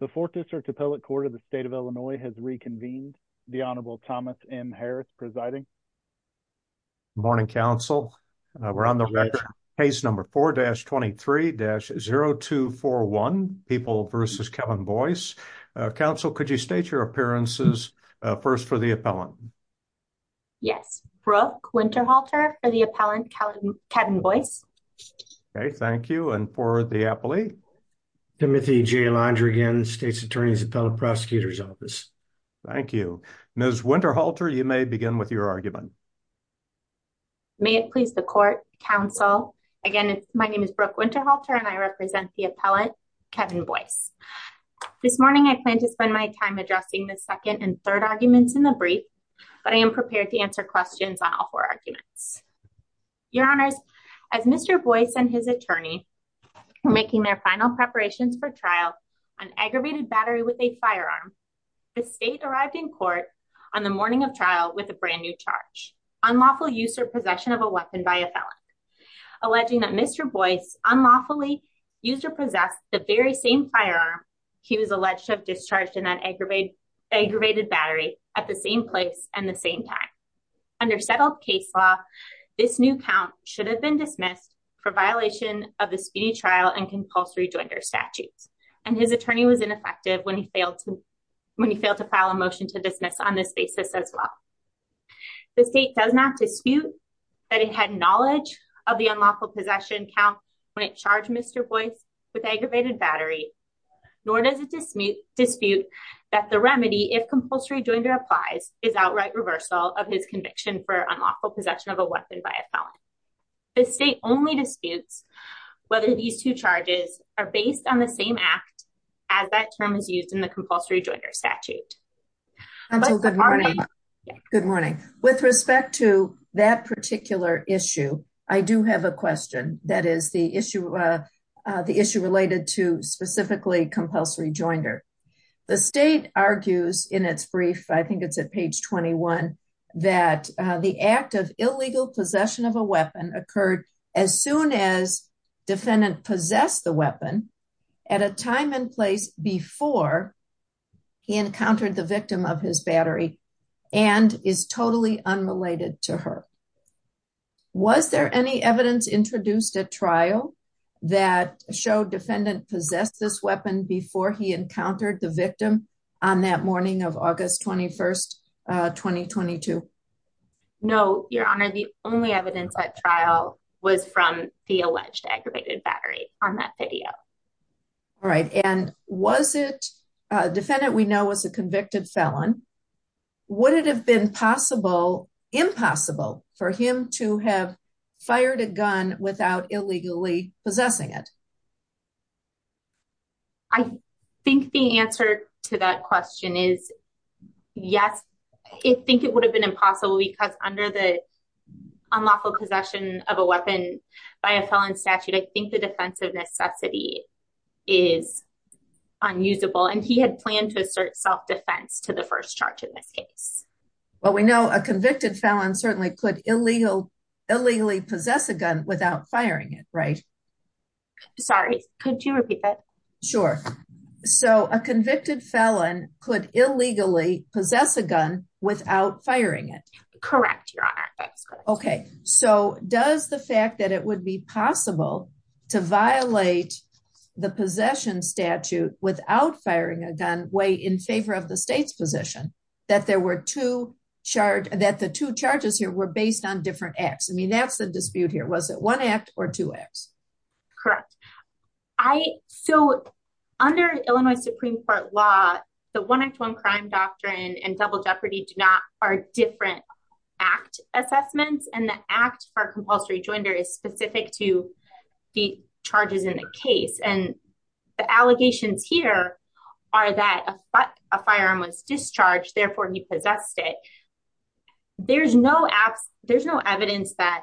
The 4th District Appellate Court of the State of Illinois has reconvened. The Honorable Thomas M. Harris presiding. Morning, Council. We're on the record. Case number 4-23-0241, People v. Kevin Boyce. Council, could you state your appearances first for the appellant? Yes. Brooke Winterhalter for the appellant, Kevin Boyce. Okay, thank you. And for the appellee? Timothy J. Londrigan, State's Attorney's Appellate Prosecutor's Office. Thank you. Ms. Winterhalter, you may begin with your argument. May it please the Court, Council. Again, my name is Brooke Winterhalter, and I represent the appellant, Kevin Boyce. This morning, I plan to spend my time addressing the second and third arguments in the brief, but I am prepared to answer questions on all four arguments. Your Honors, as Mr. Boyce and his attorney were making their final preparations for trial on aggravated battery with a firearm, the State arrived in court on the morning of trial with a brand new charge, unlawful use or possession of a weapon by a felon. Alleging that Mr. Boyce unlawfully used or possessed the very same firearm he was alleged to have discharged in that aggravated battery at the same place and the same time. Under settled case law, this new count should have been dismissed for violation of the speedy trial and compulsory joinder statutes, and his attorney was ineffective when he failed to file a motion to dismiss on this basis as well. The State does not dispute that it had knowledge of the unlawful possession count when it charged Mr. Boyce with aggravated battery, nor does it dispute that the remedy, if compulsory joinder applies, is outright reversal of his conviction for unlawful possession of a weapon by a felon. The State only disputes whether these two charges are based on the same act as that term is used in the compulsory joinder statute. Good morning. With respect to that particular issue, I do have a question that is the issue related to specifically compulsory joinder. The State argues in its brief, I think it's at page 21, that the act of illegal possession of a weapon occurred as soon as defendant possessed the weapon at a time and place before he encountered the victim of his battery and is totally unrelated to her. Was there any evidence introduced at trial that showed defendant possessed this weapon before he encountered the victim on that morning of August 21st, 2022? No, Your Honor, the only evidence at trial was from the alleged aggravated battery on that video. All right, and was it, defendant we know was a convicted felon, would it have been possible, impossible for him to have fired a gun without illegally possessing it? I think the answer to that question is yes, I think it would have been impossible because under the unlawful possession of a weapon by a felon statute, I think the defense of necessity is unusable and he had planned to assert self-defense to the first charge in this case. Well, we know a convicted felon certainly could illegally possess a gun without firing it, right? Sorry, could you repeat that? Sure, so a convicted felon could illegally possess a gun without firing it? Correct, Your Honor. Okay, so does the fact that it would be possible to violate the possession statute without firing a gun way in favor of the state's position, that there were two charge, that the two charges here were based on different acts? I mean, that's the dispute here, was it one act or two acts? Correct, I, so under Illinois Supreme Court law, the one-act-one-crime doctrine and double jeopardy do not are different act assessments and the act for compulsory joinder is specific to the charges in the case and the allegations here are that a firearm was discharged, therefore he possessed it. There's no evidence that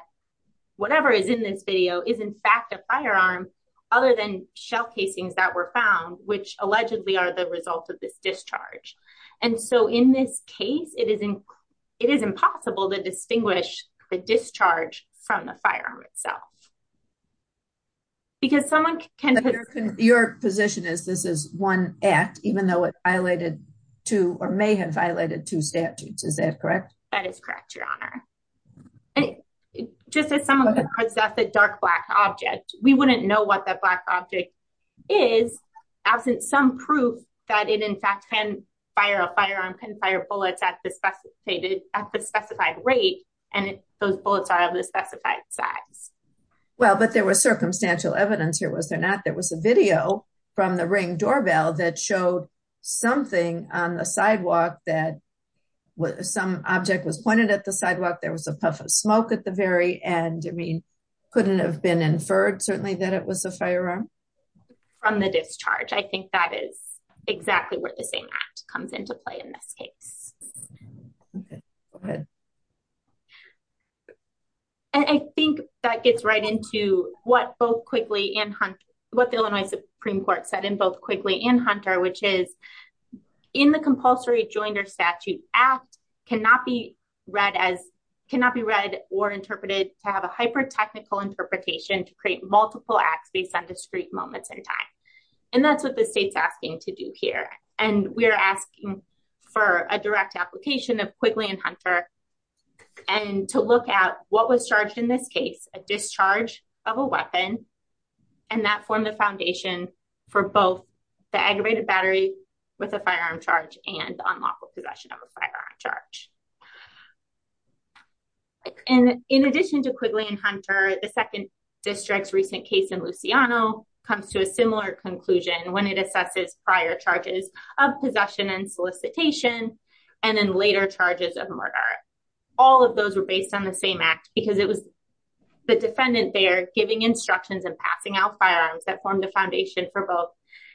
whatever is in this video is in fact a firearm other than shell casings that were found, which allegedly are the result of this discharge. And so in this case, it is impossible to from the firearm itself because someone can... Your position is this is one act, even though it violated two or may have violated two statutes, is that correct? That is correct, Your Honor. And just as someone could possess a dark black object, we wouldn't know what that black object is absent some proof that it in fact can fire a firearm, can fire a firearm. Well, but there was circumstantial evidence here, was there not? There was a video from the ring doorbell that showed something on the sidewalk that some object was pointed at the sidewalk. There was a puff of smoke at the very end. I mean, couldn't have been inferred certainly that it was a firearm? From the discharge. I think that is exactly where the same act comes into play in this case. Okay, go ahead. And I think that gets right into what both Quigley and Hunter, what the Illinois Supreme Court said in both Quigley and Hunter, which is in the compulsory joinder statute act cannot be read as cannot be read or interpreted to have a hyper technical interpretation to create multiple acts based on discrete moments in time. And that's what the state's asking to do here. And we're asking for a direct application of Quigley and Hunter and to look at what was charged in this case, a discharge of a weapon. And that formed the foundation for both the aggravated battery with a firearm charge and unlawful possession of a firearm charge. And in addition to Quigley and Hunter, the second district's recent case in Luciano comes to a similar conclusion when it assesses prior charges of possession and solicitation, and then later charges of murder. All of those were based on the same act because it was the defendant there giving instructions and passing out firearms that formed the foundation for both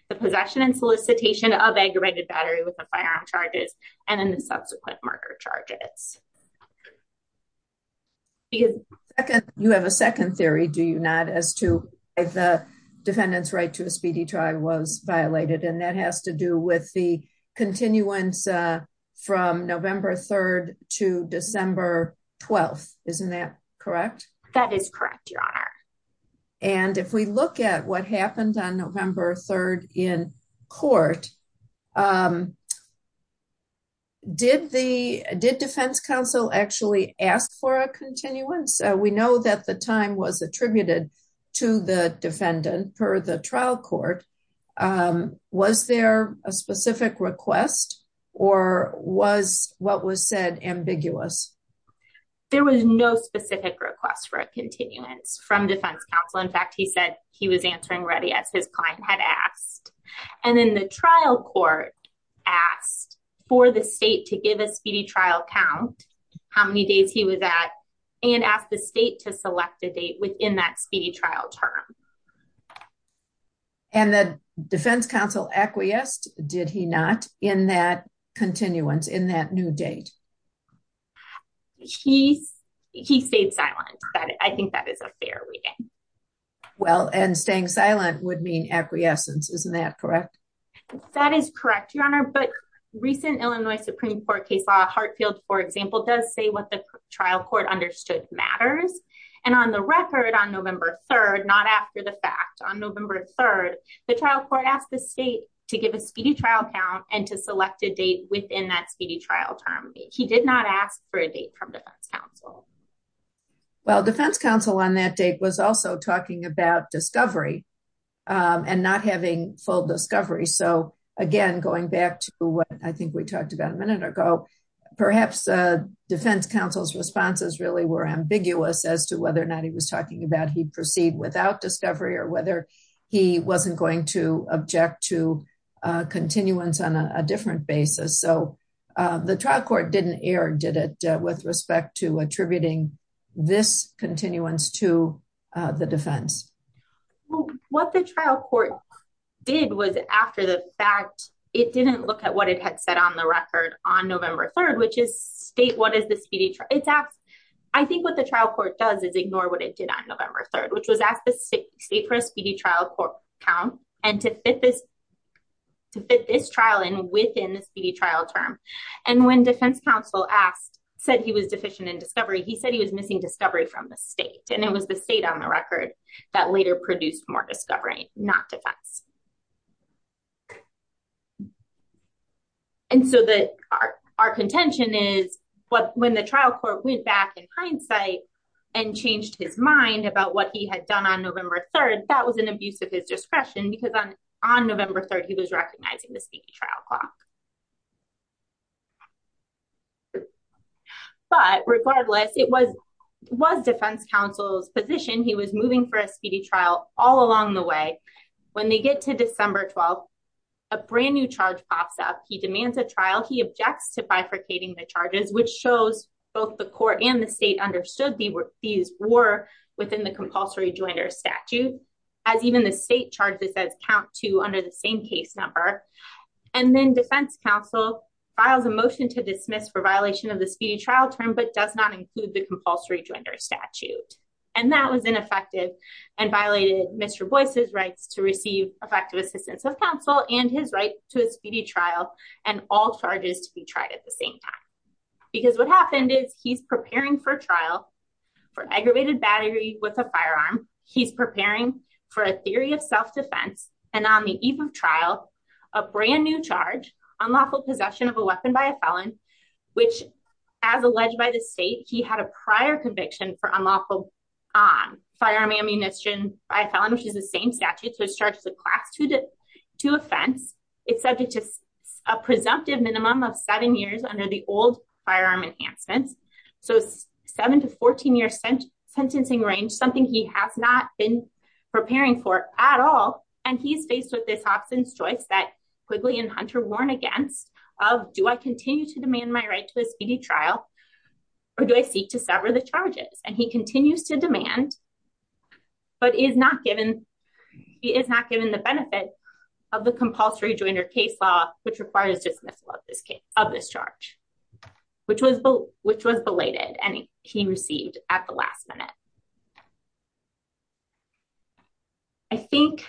the possession and solicitation of aggravated battery with the firearm charges and then the subsequent murder charges. You have a second theory, do you not as to the defendant's right to a speedy trial was violated and that has to do with the continuance from November 3rd to December 12th. Isn't that correct? That is correct, Your Honor. And if we look at what happened on November 3rd in court, did the defense counsel actually ask for a continuance? We know that the time was attributed to the defendant per the trial court. Was there a specific request or was what was said ambiguous? There was no specific request for a continuance from defense counsel. In fact, he said he was court asked for the state to give a speedy trial count how many days he was at and asked the state to select a date within that speedy trial term. And the defense counsel acquiesced, did he not, in that continuance in that new date? He stayed silent. I think that is a fair reading. Well, and staying silent would mean acquiescence. Isn't that correct? That is correct, Your Honor. But recent Illinois Supreme Court case law Hartfield, for example, does say what the trial court understood matters. And on the record on November 3rd, not after the fact on November 3rd, the trial court asked the state to give a speedy trial count and to select a date within that speedy trial term. He did not ask for a date from defense counsel. Well, defense counsel on that date was also talking about discovery and not having full discovery. So again, going back to what I think we talked about a minute ago, perhaps defense counsel's responses really were ambiguous as to whether or not he was talking about he proceeded without discovery or whether he wasn't going to object to continuance on a this continuance to the defense. Well, what the trial court did was after the fact, it didn't look at what it had said on the record on November 3rd, which is state, what is the speedy trial? I think what the trial court does is ignore what it did on November 3rd, which was asked the state for a speedy trial count and to fit this trial in within the speedy trial. He said he was missing discovery from the state and it was the state on the record that later produced more discovery, not defense. And so our contention is when the trial court went back in hindsight and changed his mind about what he had done on November 3rd, that was an abuse of his discretion because on November 3rd, he was recognizing the speedy trial clock. But regardless, it was defense counsel's position. He was moving for a speedy trial all along the way. When they get to December 12th, a brand new charge pops up. He demands a trial. He objects to bifurcating the charges, which shows both the court and the state understood these were within the compulsory joiner statute, as even the state charged this as count two under the same case number. And then defense counsel files a motion to dismiss for violation of the speedy trial term, but does not include the compulsory joiner statute. And that was ineffective and violated Mr. Boyce's rights to receive effective assistance of counsel and his right to a speedy trial and all charges to be tried at the same time. Because what happened is he's preparing for trial for aggravated battery with a firearm. He's preparing for a theory of self-defense and on the eve of trial, a brand new charge, unlawful possession of a weapon by a felon, which as alleged by the state, he had a prior conviction for unlawful firearm ammunition by a felon, which is the same statute. So it starts with class two offense. It's subject to a presumptive minimum of seven years under the old firearm enhancements. So seven to 14 years sentencing range, something he has not been preparing for at all. And he's faced with this options choice that Quigley and Hunter warn against of, do I continue to demand my right to a speedy trial, or do I seek to sever the charges? And he continues to demand, but is not given, is not given the benefit of the compulsory joinder case law, which requires dismissal of this charge, which was belated and he received at the last minute. I think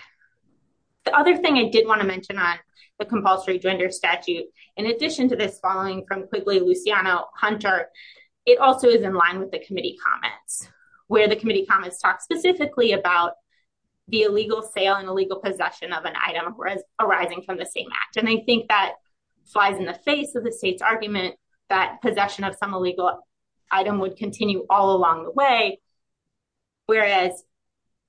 the other thing I did want to mention on the compulsory joinder statute, in addition to this following from Quigley, Luciano, Hunter, it also is in line with the comments talked specifically about the illegal sale and illegal possession of an item, whereas arising from the same act. And I think that flies in the face of the state's argument, that possession of some illegal item would continue all along the way. Whereas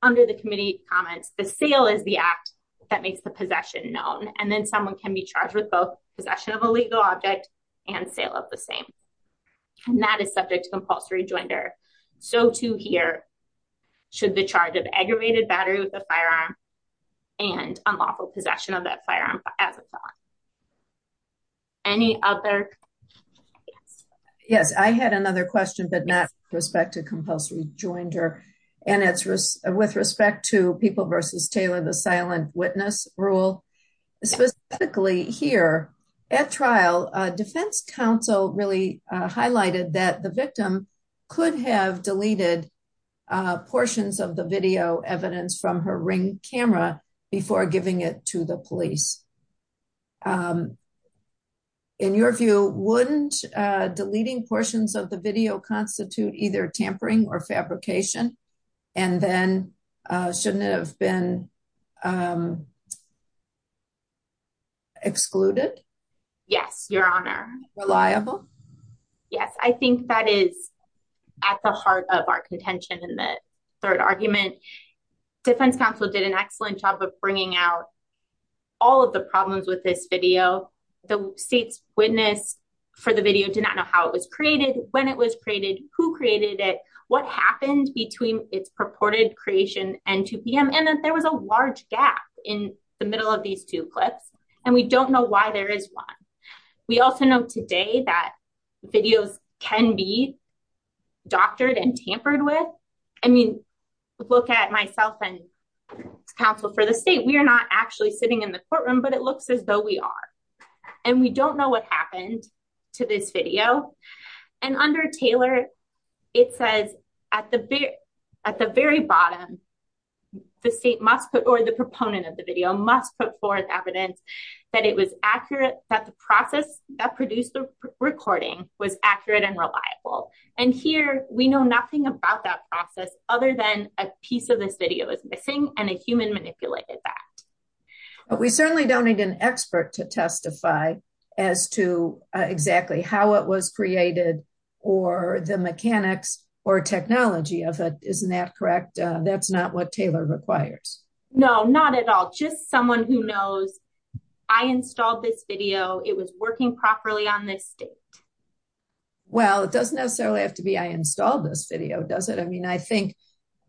under the committee comments, the sale is the act that makes the possession known. And then someone can be charged with both possession of a legal object and sale of the same. And that subject to compulsory joinder. So to here, should the charge of aggravated battery with a firearm and unlawful possession of that firearm as a thought. Any other? Yes, I had another question, but not with respect to compulsory joinder. And it's with respect to people versus Taylor, the silent witness rule, specifically here at trial, defense counsel really highlighted that the victim could have deleted portions of the video evidence from her ring camera before giving it to the police. In your view, wouldn't deleting portions of the video constitute either tampering or fabrication? And then shouldn't it have been excluded? Yes, Your Honor. Reliable? Yes, I think that is at the heart of our contention in the third argument. Defense counsel did an excellent job of bringing out all of the problems with this video. The state's witness for the video did not know how it was created, when it was created, who created it, what happened between its purported creation and 2pm. And there was a large gap in the middle of these two clips. And we don't know why there is one. We also know today that videos can be doctored and tampered with. I mean, look at myself and counsel for the state, we are not actually sitting in the courtroom, but it looks as though we are. And we don't know what happened to this video. And under Taylor, it says at the at the very bottom, the state must put or the proponent of the video must put forth evidence that it was accurate that the process that produced the recording was accurate and reliable. And here we know nothing about that process other than a piece of this video is missing and a human manipulated that. We certainly don't need an expert to testify as to exactly how it was created, or the mechanics or technology of it. Isn't that correct? That's not what Taylor requires. No, not at all. Just someone who knows, I installed this video, it was working properly on this state. Well, it doesn't necessarily have to be I installed this video, does it? I mean, I think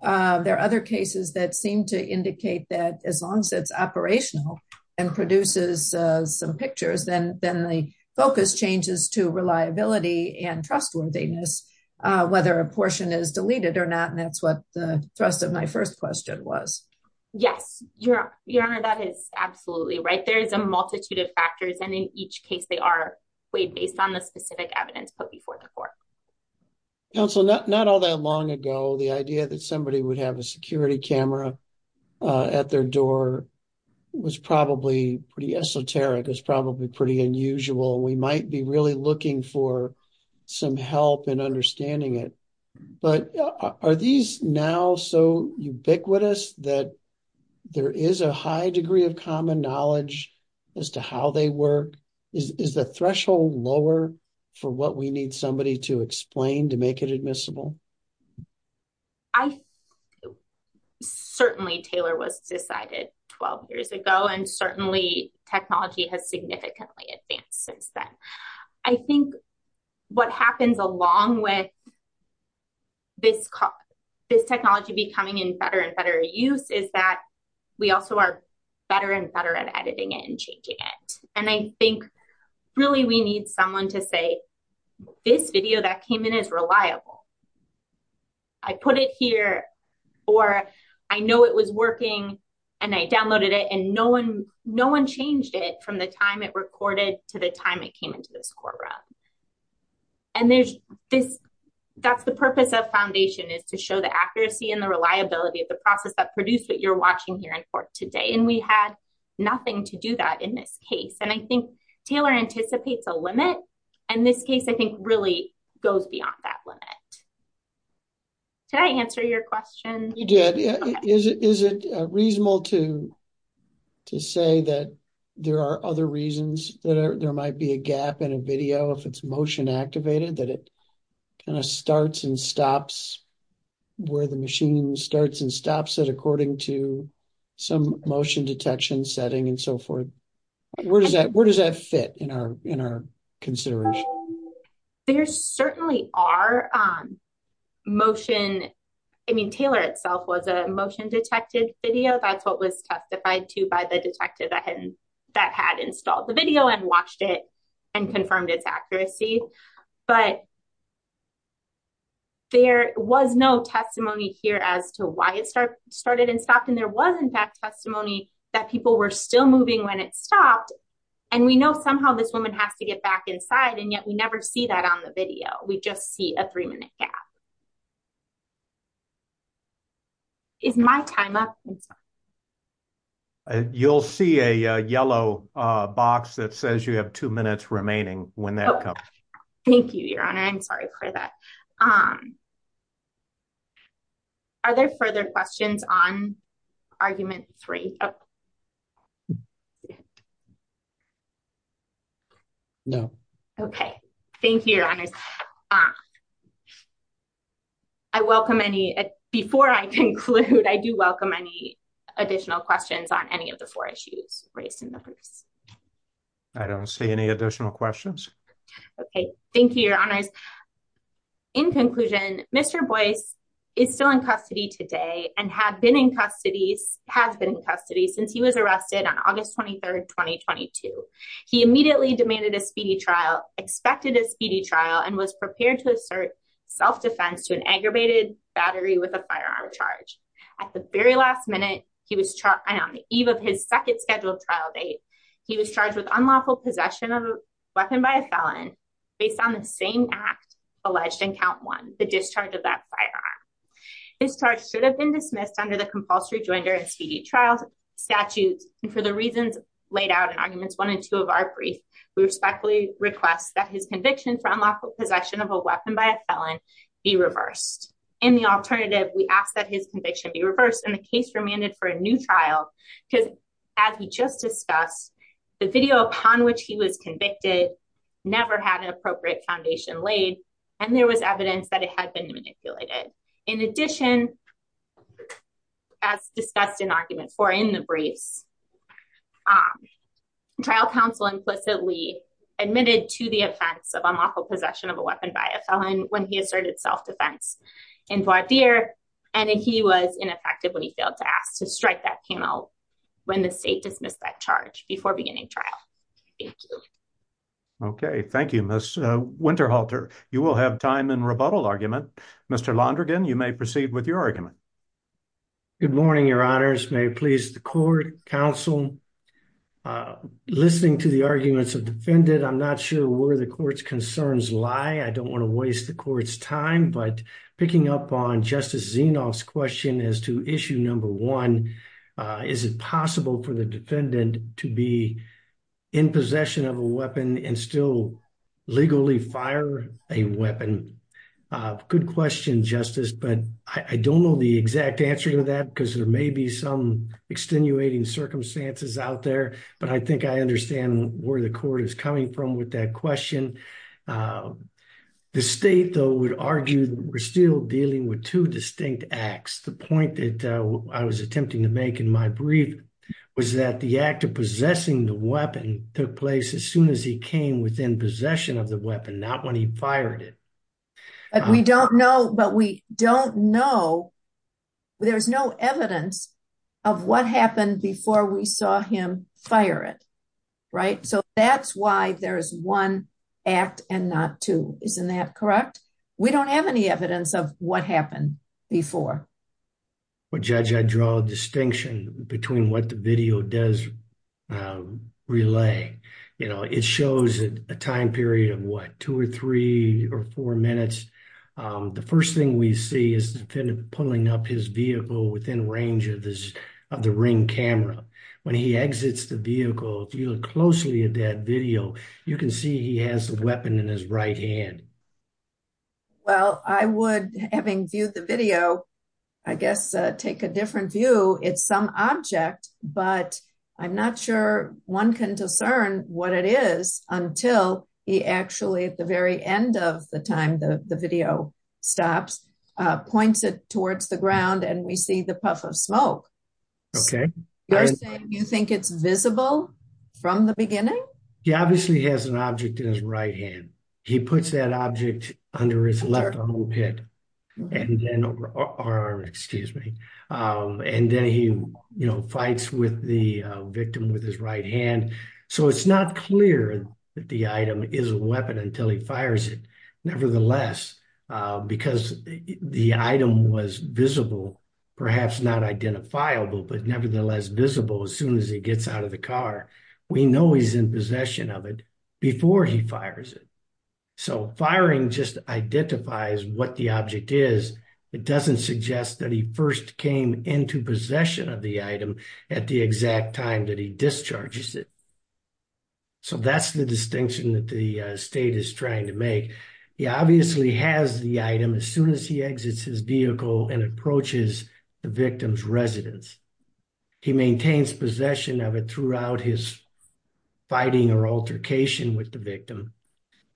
there are other cases that seem to indicate that as long as it's operational, and produces some pictures, then then the focus changes to reliability and trustworthiness, whether a portion is deleted or not. And that's what the thrust of my first question was. Yes, your your honor, that is absolutely right. There is a multitude of factors. And in each case, they are weighed based on the specific evidence put before the court. Council, not not all that long ago, the idea that somebody would have a security camera at their door was probably pretty esoteric is probably pretty unusual. We might be really looking for some help in understanding it. But are these now so ubiquitous that there is a high degree of common knowledge as to how they work? Is the threshold lower for what we need somebody to explain to make it admissible? I certainly Taylor was decided 12 years ago. And certainly, technology has significantly advanced since then. I think what happens along with this, this technology becoming in better and better use is that we also are better and better at editing it and changing it. And I think, really, we need someone to say, this video that came in is reliable. I put it here, or I know it was working. And I downloaded it. And no one, no one changed it from the time it recorded to the time it came into this courtroom. And there's this. That's the purpose of foundation is to show the accuracy and the reliability of process that produced what you're watching here in court today. And we had nothing to do that in this case. And I think Taylor anticipates a limit. And this case, I think really goes beyond that limit. Did I answer your question? You did? Is it reasonable to say that there are other reasons that there might be a gap in a video if it's motion activated, that it kind of starts and stops it according to some motion detection setting and so forth? Where does that where does that fit in our in our consideration? There certainly are motion. I mean, Taylor itself was a motion detected video. That's what was testified to by the detective that hadn't that had installed the video and watched it and confirmed its accuracy. But there was no testimony here as to why it started and stopped. And there wasn't that testimony that people were still moving when it stopped. And we know somehow this woman has to get back inside. And yet we never see that on the video. We just see a three minute gap. Is my time up? You'll see a yellow box that says you have two minutes remaining when that comes. Thank you, Your Honor. I'm sorry for that. Are there further questions on argument three? No. Okay. Thank you. I welcome any before I conclude, I do welcome any additional questions on any of the four issues raised in the purse. I don't see any additional questions. Okay, thank you, Your Honors. In conclusion, Mr. Boyce is still in custody today and had been in custody, has been in custody since he was arrested on August 23, 2022. He immediately demanded a speedy trial, expected a speedy trial and was prepared to assert self-defense to an aggravated battery with a firearm charge. At the very last minute, he was on the eve of his second scheduled trial date. He was charged with unlawful possession of a weapon by a felon based on the same act alleged in count one, the discharge of that firearm. His charge should have been dismissed under the compulsory joinder and speedy trials statutes. And for the reasons laid out in arguments one and two of our brief, we respectfully request that his conviction for unlawful possession of a weapon by a felon be reversed. In the alternative, we ask that his conviction be reversed and the case remanded for a new trial because as we just discussed, the video upon which he was convicted never had an appropriate foundation laid and there was evidence that it had been manipulated. In addition, as discussed in argument four in the briefs, trial counsel implicitly admitted to the offense of unlawful possession of a weapon by a felon when he asserted self-defense in voir dire and he was ineffective when he failed to ask to strike that panel when the state dismissed that charge before beginning trial. Thank you. Okay, thank you, Miss Winterhalter. You will have time in rebuttal argument. Mr. Londrigan, you may proceed with your argument. Good morning, your honors. May it please the court, counsel. Listening to the arguments of defendant, I'm not sure where the court's concerns lie. I don't want to waste the court's time, but picking up on Justice Zinoff's question as to issue number one, is it possible for the defendant to be in possession of a weapon and still legally fire a weapon? Good question, Justice, but I don't know the exact answer to that because there may be some extenuating circumstances out there, but I think I understand where the court is coming from with that question. The state, though, would argue we're still dealing with two distinct acts. The point that I was attempting to make in my brief was that the act of possessing the weapon took place as soon as he came within possession of the weapon, not when he fired it. We don't know, but we don't know. There's no evidence of what happened before we saw him fire it, right? So that's why there's one act and not two. Isn't that correct? We don't have any evidence of what happened before. Well, Judge, I draw a distinction between what the video does relay. It shows a time period of what, two or three or four minutes? The first thing we see is the defendant pulling up his vehicle within range of the ring camera. When he exits the vehicle, if you look closely at that he has the weapon in his right hand. Well, I would, having viewed the video, I guess take a different view. It's some object, but I'm not sure one can discern what it is until he actually, at the very end of the time the video stops, points it towards the ground and we see the puff of smoke. Okay. You're saying you think it's visible from the beginning? He obviously has an object in his right hand. He puts that object under his left armpit and then over arm, excuse me. And then he, you know, fights with the victim with his right hand. So it's not clear that the item is a weapon until he fires it. Nevertheless, because the item was visible, perhaps not identifiable, but nevertheless visible as soon as he gets out of the car. We know he's in possession of it before he fires it. So firing just identifies what the object is. It doesn't suggest that he first came into possession of the item at the exact time that he discharges it. So that's the distinction that the state is trying to make. He obviously has the item as soon as he exits his vehicle and approaches the victim's residence. He maintains possession of it throughout his fighting or altercation with the victim.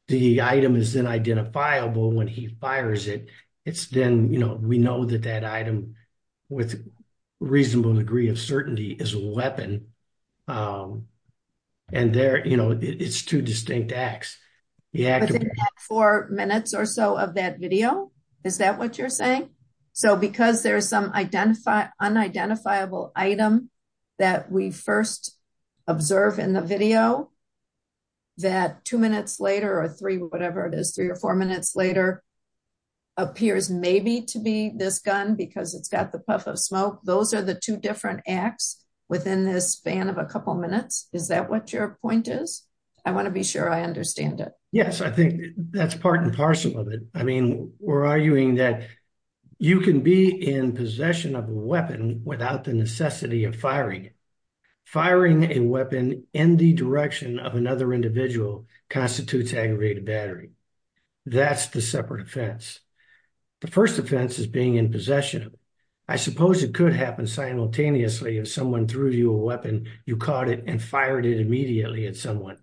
The item is then identifiable when he fires it. It's then, you know, we know that that item with a reasonable degree of certainty is a weapon. And there, you know, it's two distinct acts. Yeah. Four minutes or so of that video. Is that what you're saying? So because there's some unidentifiable item that we first observe in the video that two minutes later or three, whatever it is, three or four minutes later appears maybe to be this gun because it's got the puff of smoke. Those are the two different acts within this span of a couple of minutes. Is that what your point is? I want to be sure I understand it. Yes, I think that's part and a part of it. I think that's part of the issue. I think that's part of the issue. Firing a weapon in the direction of another individual constitutes aggravated battery. That's the separate offense. The first offense is being in possession. I suppose it could happen simultaneously. If someone threw you a weapon, you caught it and fired it immediately at someone,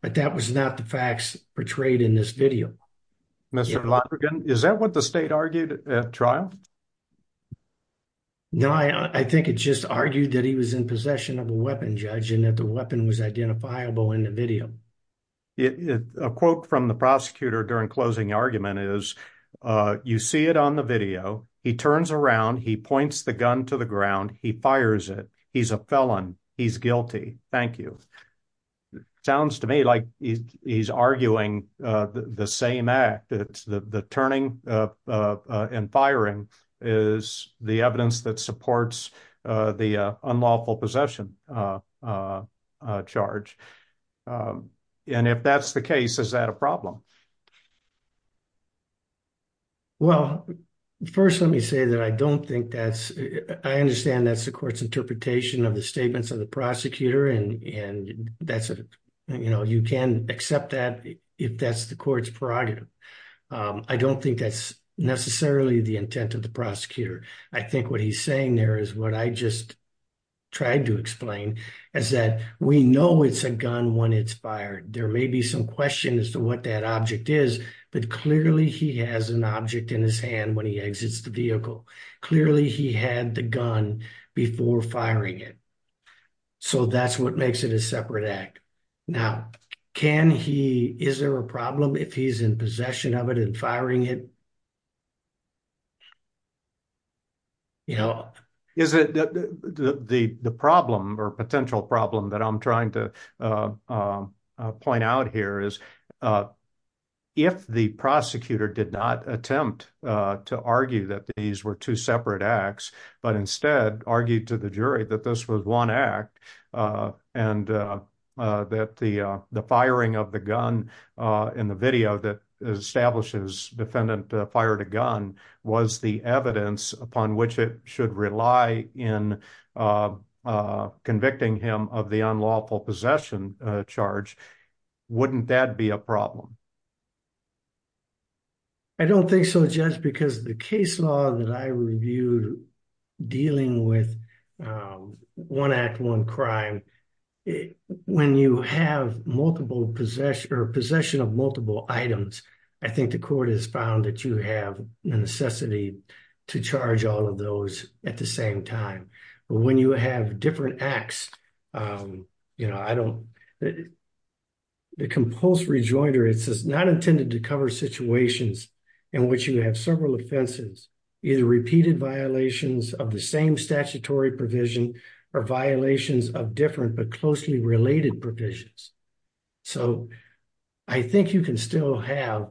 but that was not the facts portrayed in this video. Mr. Lonergan, is that what the state argued at trial? No, I think it just argued that he was in possession of a weapon, judge, and that the weapon was identifiable in the video. A quote from the prosecutor during closing argument is, you see it on the video. He turns around. He points the gun to the ground. He fires it. He's a felon. He's guilty. Thank you. It sounds to me like he's arguing the same act. The turning and firing is the evidence that supports the unlawful possession charge. If that's the case, is that a problem? Well, first, let me say that I don't think that's... I understand that's the court's decision. You can accept that if that's the court's prerogative. I don't think that's necessarily the intent of the prosecutor. I think what he's saying there is what I just tried to explain, is that we know it's a gun when it's fired. There may be some question as to what that object is, but clearly he has an object in his hand when he exits the vehicle. Clearly, he had the gun before firing it. So, that's what makes it a separate act. Now, is there a problem if he's in possession of it and firing it? The problem or potential problem that I'm trying to point out here is, if the prosecutor did not attempt to argue that these were two separate acts, but instead argued to the jury that this was one act and that the firing of the gun in the video that establishes defendant fired a gun was the evidence upon which it should rely in convicting him of the unlawful possession charge, wouldn't that be a problem? I don't think so, Judge, because the case law that I reviewed dealing with one act, one crime, when you have multiple possession or possession of multiple items, I think the court has found that you have a necessity to charge all of those at the same time. But when you have different acts, the Compulse Rejoinder, it says, not intended to cover situations in which you have several offenses, either repeated violations of the same statutory provision or violations of different but closely related provisions. So, I think you can still have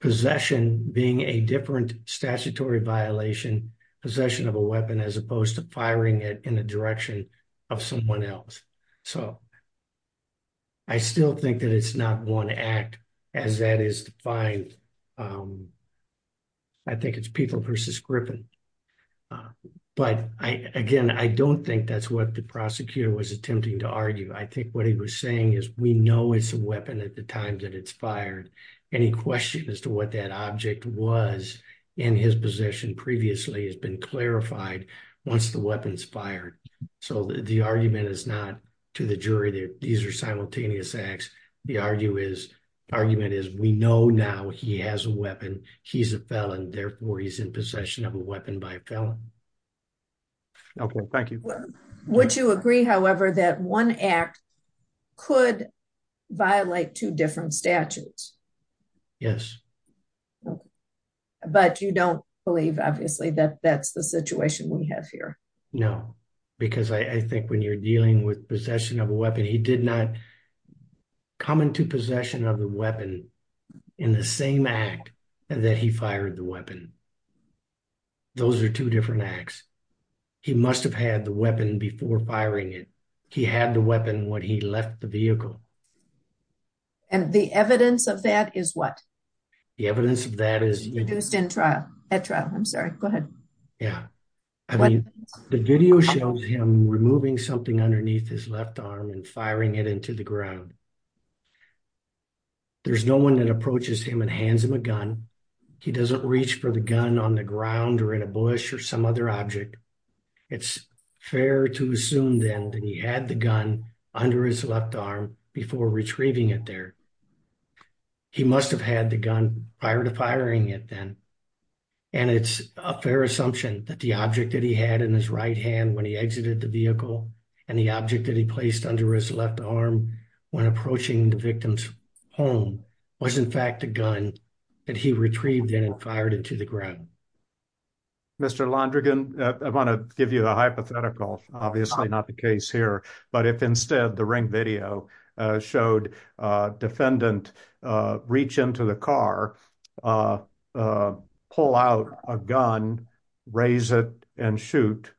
possession being a different statutory violation, possession of a weapon, as opposed to firing it in the direction of someone else. So, I still think that it's not one act as that is defined. I think it's Peeble versus Griffin. But again, I don't think that's what the prosecutor was attempting to argue. I think what he was saying is we know it's a weapon at the time that it's fired. Any question as to what that object was in his possession previously has been clarified once the weapon's fired. So, the argument is not to the jury that these are simultaneous acts. The argument is we know now he has a weapon. He's a felon. Therefore, he's in possession of a weapon by a felon. Thank you. Would you agree, however, that one act could violate two different statutes? Yes. But you don't believe, obviously, that that's the situation we have here? No, because I think when you're dealing with possession of a weapon, he did not come into possession of the weapon in the same act that he fired the weapon. Those are two different acts. He must have had the weapon before firing it. He had the weapon when he left the vehicle. And the evidence of that is what? The evidence of that is... Reduced in trial. At trial. I'm sorry. Go ahead. Yeah. The video shows him removing something underneath his left arm and firing it into the ground. There's no one that approaches him and hands him a gun. He doesn't reach for the gun on the ground or in a bush or some other object. It's fair to assume then that he had the gun under his left arm before retrieving it there. He must have had the gun prior to firing it then. And it's a fair assumption that the object that he had in his right hand when he exited the vehicle and the object that he placed under his left arm when approaching the victim's home was, in fact, a gun that he retrieved and fired into the ground. Mr. Londrigan, I want to give you the hypothetical. Obviously not the case here. But if instead the ring video showed a defendant reach into the car, pull out a gun, raise it and shoot,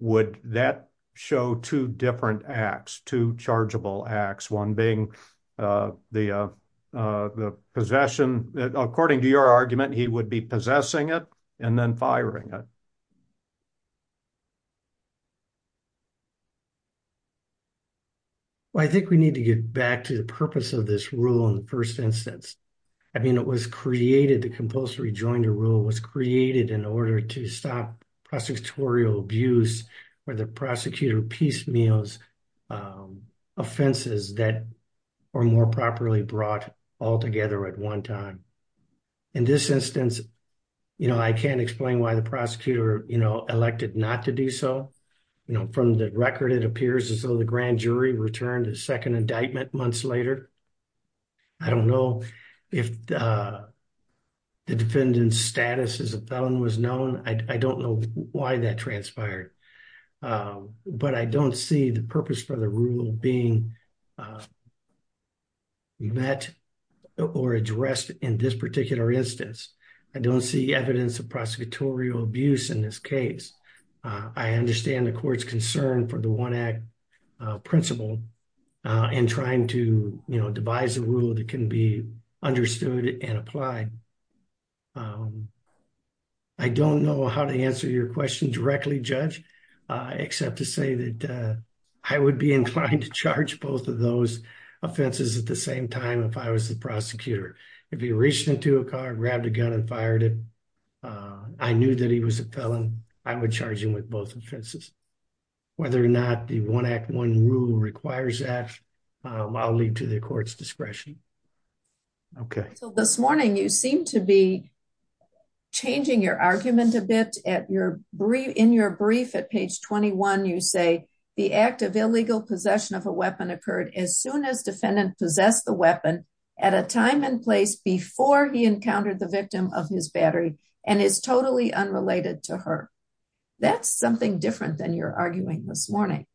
would that show two different acts? Two chargeable acts? One being the possession, according to your argument, he would be possessing it and then firing it. Well, I think we need to get back to the purpose of this rule in the first instance. I mean, it was created, the compulsory joinder rule was created in order to stop prosecutorial abuse or the prosecutor piecemeals offenses that were more properly brought all together at one time. In this instance, you know, I can't explain why the prosecutor, you know, elected not to do so. You know, from the record, it appears as though the grand jury returned a second indictment months later. I don't know if the defendant's status as a felon was why that transpired. But I don't see the purpose for the rule being met or addressed in this particular instance. I don't see evidence of prosecutorial abuse in this case. I understand the court's concern for the one act principle in trying to, you know, devise a plan. I don't know how to answer your question directly, Judge, except to say that I would be inclined to charge both of those offenses at the same time if I was the prosecutor. If he reached into a car, grabbed a gun and fired it, I knew that he was a felon. I would charge him with both offenses. Whether or not the one act, one rule requires that, I'll leave to the court's discretion. Okay. So this morning, you seem to be changing your argument a bit at your brief in your brief at page 21. You say the act of illegal possession of a weapon occurred as soon as defendant possessed the weapon at a time and place before he encountered the victim of his battery and is totally unrelated to her. That's something different than you're arguing this morning.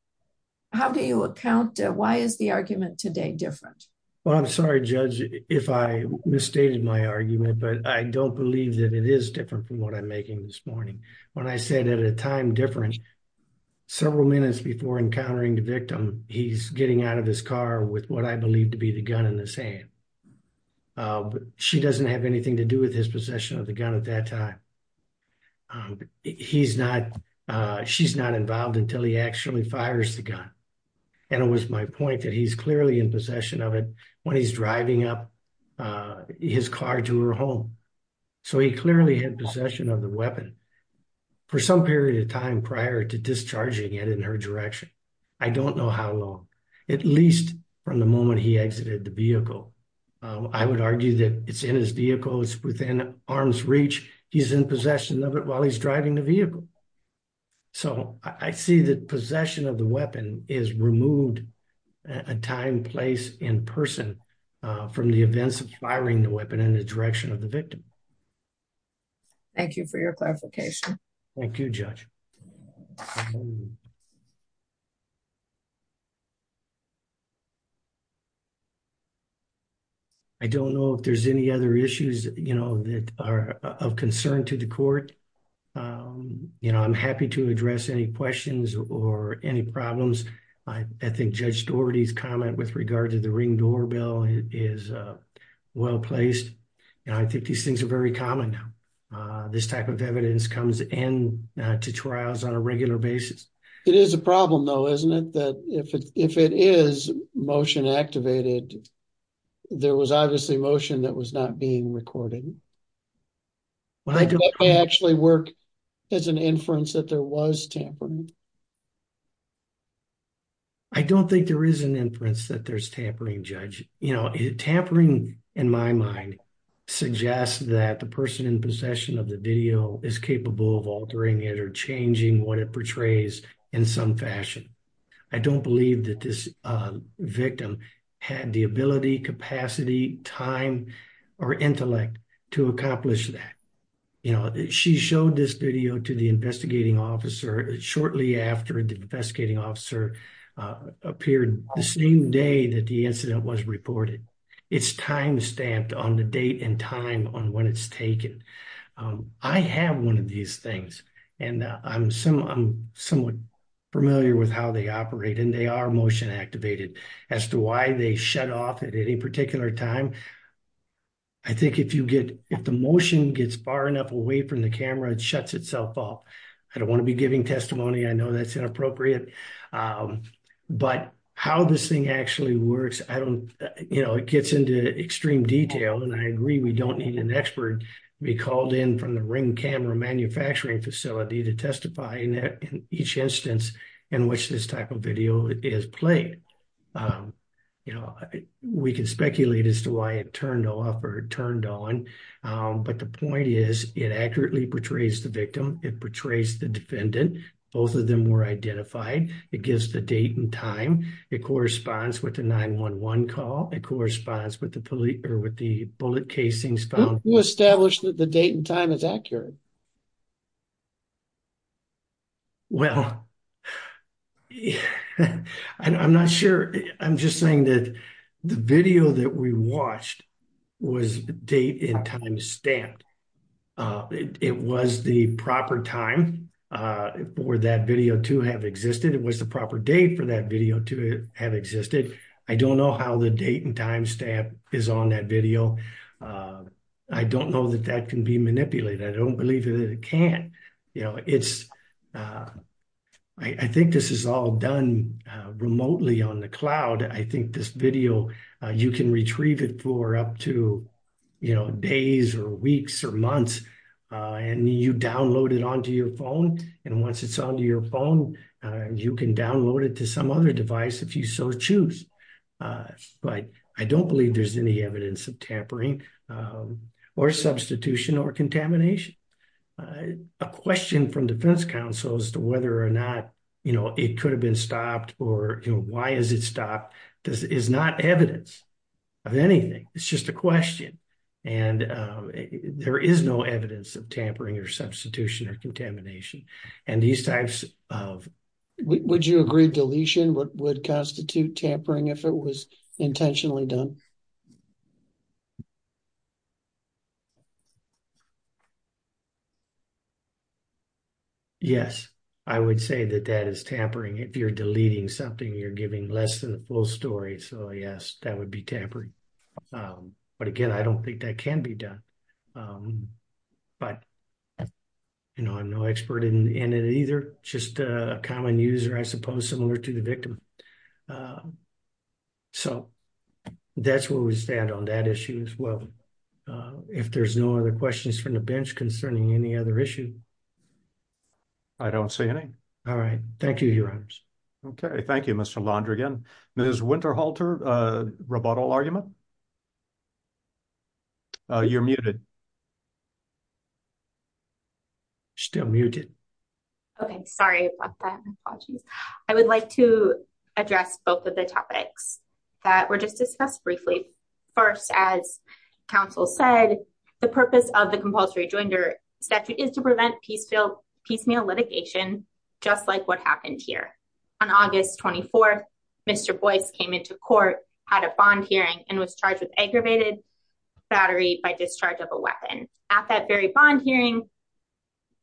How do you account, why is the argument today different? Well, I'm sorry, Judge, if I misstated my argument, but I don't believe that it is different from what I'm making this morning. When I said at a time difference, several minutes before encountering the victim, he's getting out of his car with what I believe to be the gun in his hand. She doesn't have anything to do with his possession of the gun at that time. Um, he's not, uh, she's not involved until he actually fires the gun. And it was my point that he's clearly in possession of it when he's driving up, uh, his car to her home. So he clearly had possession of the weapon for some period of time prior to discharging it in her direction. I don't know how long, at least from the moment he exited the possession of it while he's driving the vehicle. So I see that possession of the weapon is removed at a time place in person, uh, from the events of firing the weapon in the direction of the victim. Thank you for your clarification. Thank you, Judge. I don't know if there's any other issues, you know, that are of concern to the court. Um, you know, I'm happy to address any questions or any problems. I think Judge Doherty's comment with regard to the ring doorbell is, uh, well-placed. And I think these things are very common now. Uh, this type of evidence comes in, uh, to trials on a regular basis. It is a problem though, isn't it? That if it, if it is motion activated, there was obviously motion that was not being recorded. Well, I don't... Does that actually work as an inference that there was tampering? I don't think there is an inference that there's tampering, Judge. You know, tampering in my mind suggests that the person in possession of the video is capable of altering it or changing what it portrays in some fashion. I don't believe that this, uh, victim had the ability, capacity, time, or intellect to accomplish that. You know, she showed this video to the investigating officer shortly after the investigating officer, uh, appeared the same day that the incident was reported. It's time stamped on the date and time on when it's taken. Um, I have one of these things and, uh, I'm somewhat familiar with how they operate and they are motion activated. As to why they shut off at any particular time, I think if you get, if the motion gets far enough away from the camera, it shuts itself off. I don't want to be giving testimony. I know that's inappropriate. Um, but how this thing actually works, I don't, you know, it gets into extreme detail. And I agree, we don't need an expert to be called in from the ring camera manufacturing facility to testify in each instance in which this type of video is played. Um, you know, we can speculate as to why it turned off or turned on. Um, but the point is it accurately portrays the victim. It portrays the defendant. Both of them were identified. It gives the date and time. It corresponds with the 911 call. It corresponds with the police or with the bullet casings found. Who established that the date and time is accurate? Well, I'm not sure. I'm just saying that the video that we watched was date and time stamped. Uh, it was the proper time, uh, for that video to have existed. It was the proper date for that video to have existed. I don't know how the date and time stamp is on that video. Uh, I don't know that that can be manipulated. I don't believe that it can. You know, it's, uh, I think this is all done, uh, remotely on the cloud. I think this video, you can retrieve it for up to, you know, days or weeks or months, uh, and you download it onto your phone. And once it's onto your phone, uh, you can download it to some other device if you so choose. Uh, but I don't believe there's any evidence of tampering, um, or substitution or contamination. Uh, a question from defense counsel as to whether or not, you know, it could have been of anything. It's just a question. And, um, there is no evidence of tampering or substitution or contamination. And these types of... Would you agree deletion would constitute tampering if it was intentionally done? Yes, I would say that that is tampering. If you're deleting something, you're giving less than a full story. So yes, that would be tampering. Um, but again, I don't think that can be done. Um, but you know, I'm no expert in it either. Just a common user, I suppose, similar to the victim. Um, so that's where we stand on that issue as well. If there's no other questions from the bench concerning any other issue. I don't see any. All right. Thank you, Your Honors. Okay. Thank you, Mr. Londrigan. Ms. Winterhalter, uh, rebuttal argument? Uh, you're muted. Still muted. Okay. Sorry about that. I would like to address both of the topics that were just discussed briefly. First, as counsel said, the purpose of the compulsory statute is to prevent piecemeal litigation, just like what happened here. On August 24th, Mr. Boyce came into court, had a bond hearing, and was charged with aggravated battery by discharge of a weapon. At that very bond hearing,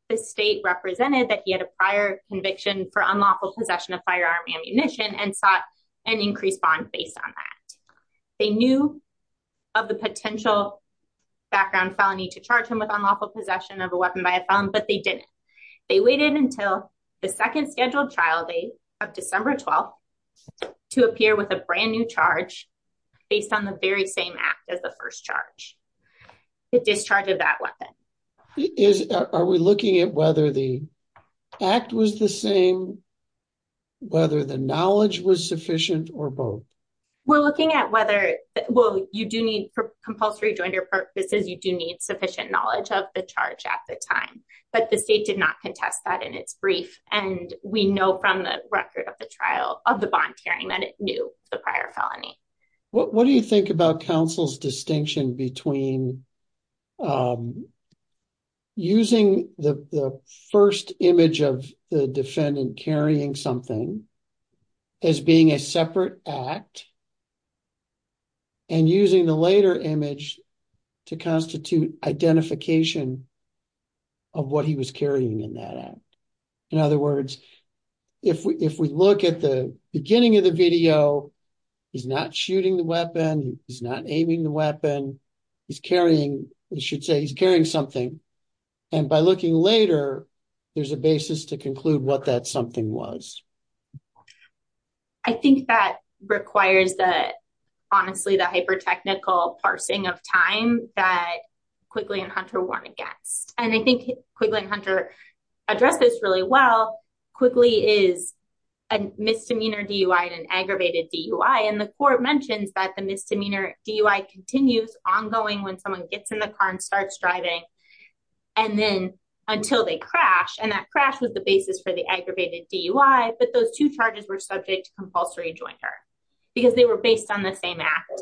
the state represented that he had a prior conviction for unlawful possession of firearm ammunition and sought an increased bond based on that. They knew of the potential background felony to charge him with unlawful possession of a weapon by a felon, but they didn't. They waited until the second scheduled trial date of December 12th to appear with a brand new charge based on the very same act as the first charge. It discharged that weapon. Is, are we looking at whether the act was the same, whether the knowledge was sufficient, or both? We're looking at whether, well, you do need compulsory jointer purposes, you do need sufficient knowledge of the charge at the time, but the state did not contest that in its brief, and we know from the record of the trial of the bond hearing that it knew the prior felony. What, what do you think about counsel's distinction between using the first image of the defendant carrying something as being a separate act and using the later image to constitute identification of what he was carrying in that act? In other words, if we, if we look at the beginning of the video, he's not shooting the weapon, he's not aiming the weapon, he's carrying, you should say he's carrying something, and by looking later, there's a basis to conclude what that something was. I think that requires the, honestly, the hyper-technical parsing of time that Quigley and Hunter won against, and I think Quigley and Hunter address this really well. Quigley is a misdemeanor DUI and an aggravated DUI, and the court mentions that the misdemeanor DUI continues ongoing when someone gets in the car and starts driving, and then until they crash, and that crash was the basis for the aggravated DUI, but those two charges were subject to compulsory jointer because they were based on the same act.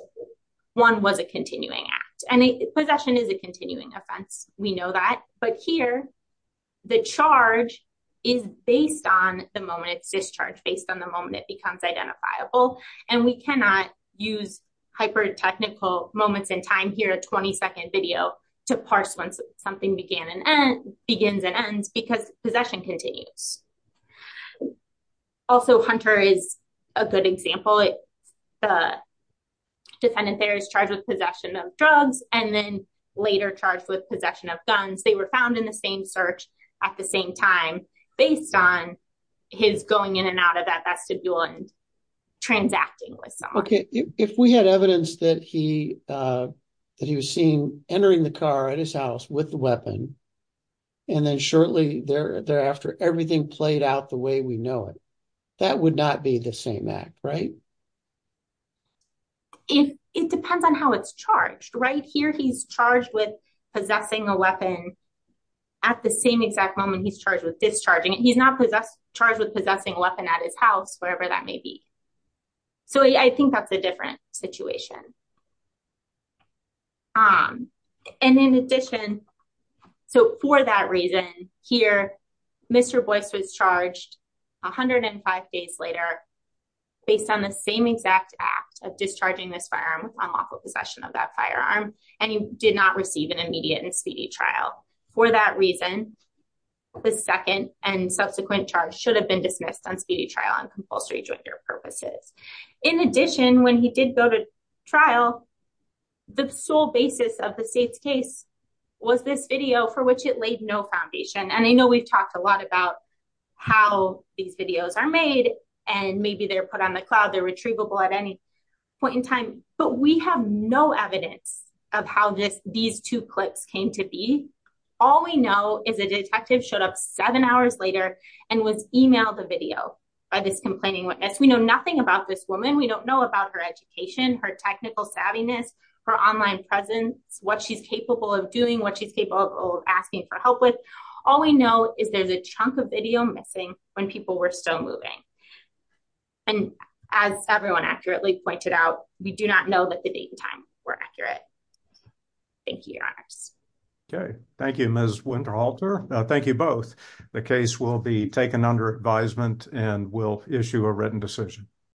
One was a continuing act, and possession is a continuing offense. We know that, but here, the charge is based on the moment it's discharged, based on the moment it becomes identifiable, and we cannot use hyper-technical moments in time here, a 20-second video, to parse when something began and ends, begins and ends, because possession continues. Also, Hunter is a good example. The defendant there is charged with possession of drugs, and then later charged with possession of guns. They were found in the same search at the same time, based on his going in and out of that vestibule and transacting with someone. Okay, if we had evidence that he was seen entering the car at his house with the weapon, and then shortly thereafter, everything played out the way we know it, that would not be the same act, right? It depends on how it's charged. Right here, he's charged with possessing a weapon at the same exact moment he's charged with discharging it. He's not charged with possessing a weapon at his house, wherever that may be, so I think that's a different situation, and in addition, so for that reason, here, Mr. Boyce was charged 105 days later, based on the same exact act of discharging this firearm upon lawful possession of that firearm, and he did not receive an immediate and speedy trial. For that reason, the second and subsequent charge should have been dismissed on speedy trial on compulsory joint or purposes. In addition, when he did go to trial, the sole of the state's case was this video for which it laid no foundation, and I know we've talked a lot about how these videos are made, and maybe they're put on the cloud, they're retrievable at any point in time, but we have no evidence of how these two clips came to be. All we know is a detective showed up seven hours later and was emailed a video by this complaining witness. We know nothing about this woman. We don't know about her education, her technical savviness, her online presence, what she's capable of doing, what she's capable of asking for help with. All we know is there's a chunk of video missing when people were still moving, and as everyone accurately pointed out, we do not know that the date and time were accurate. Thank you, Your Honors. Okay, thank you, Ms. Winterhalter. Thank you both. The case will be taken under advisement, and we'll issue a written decision.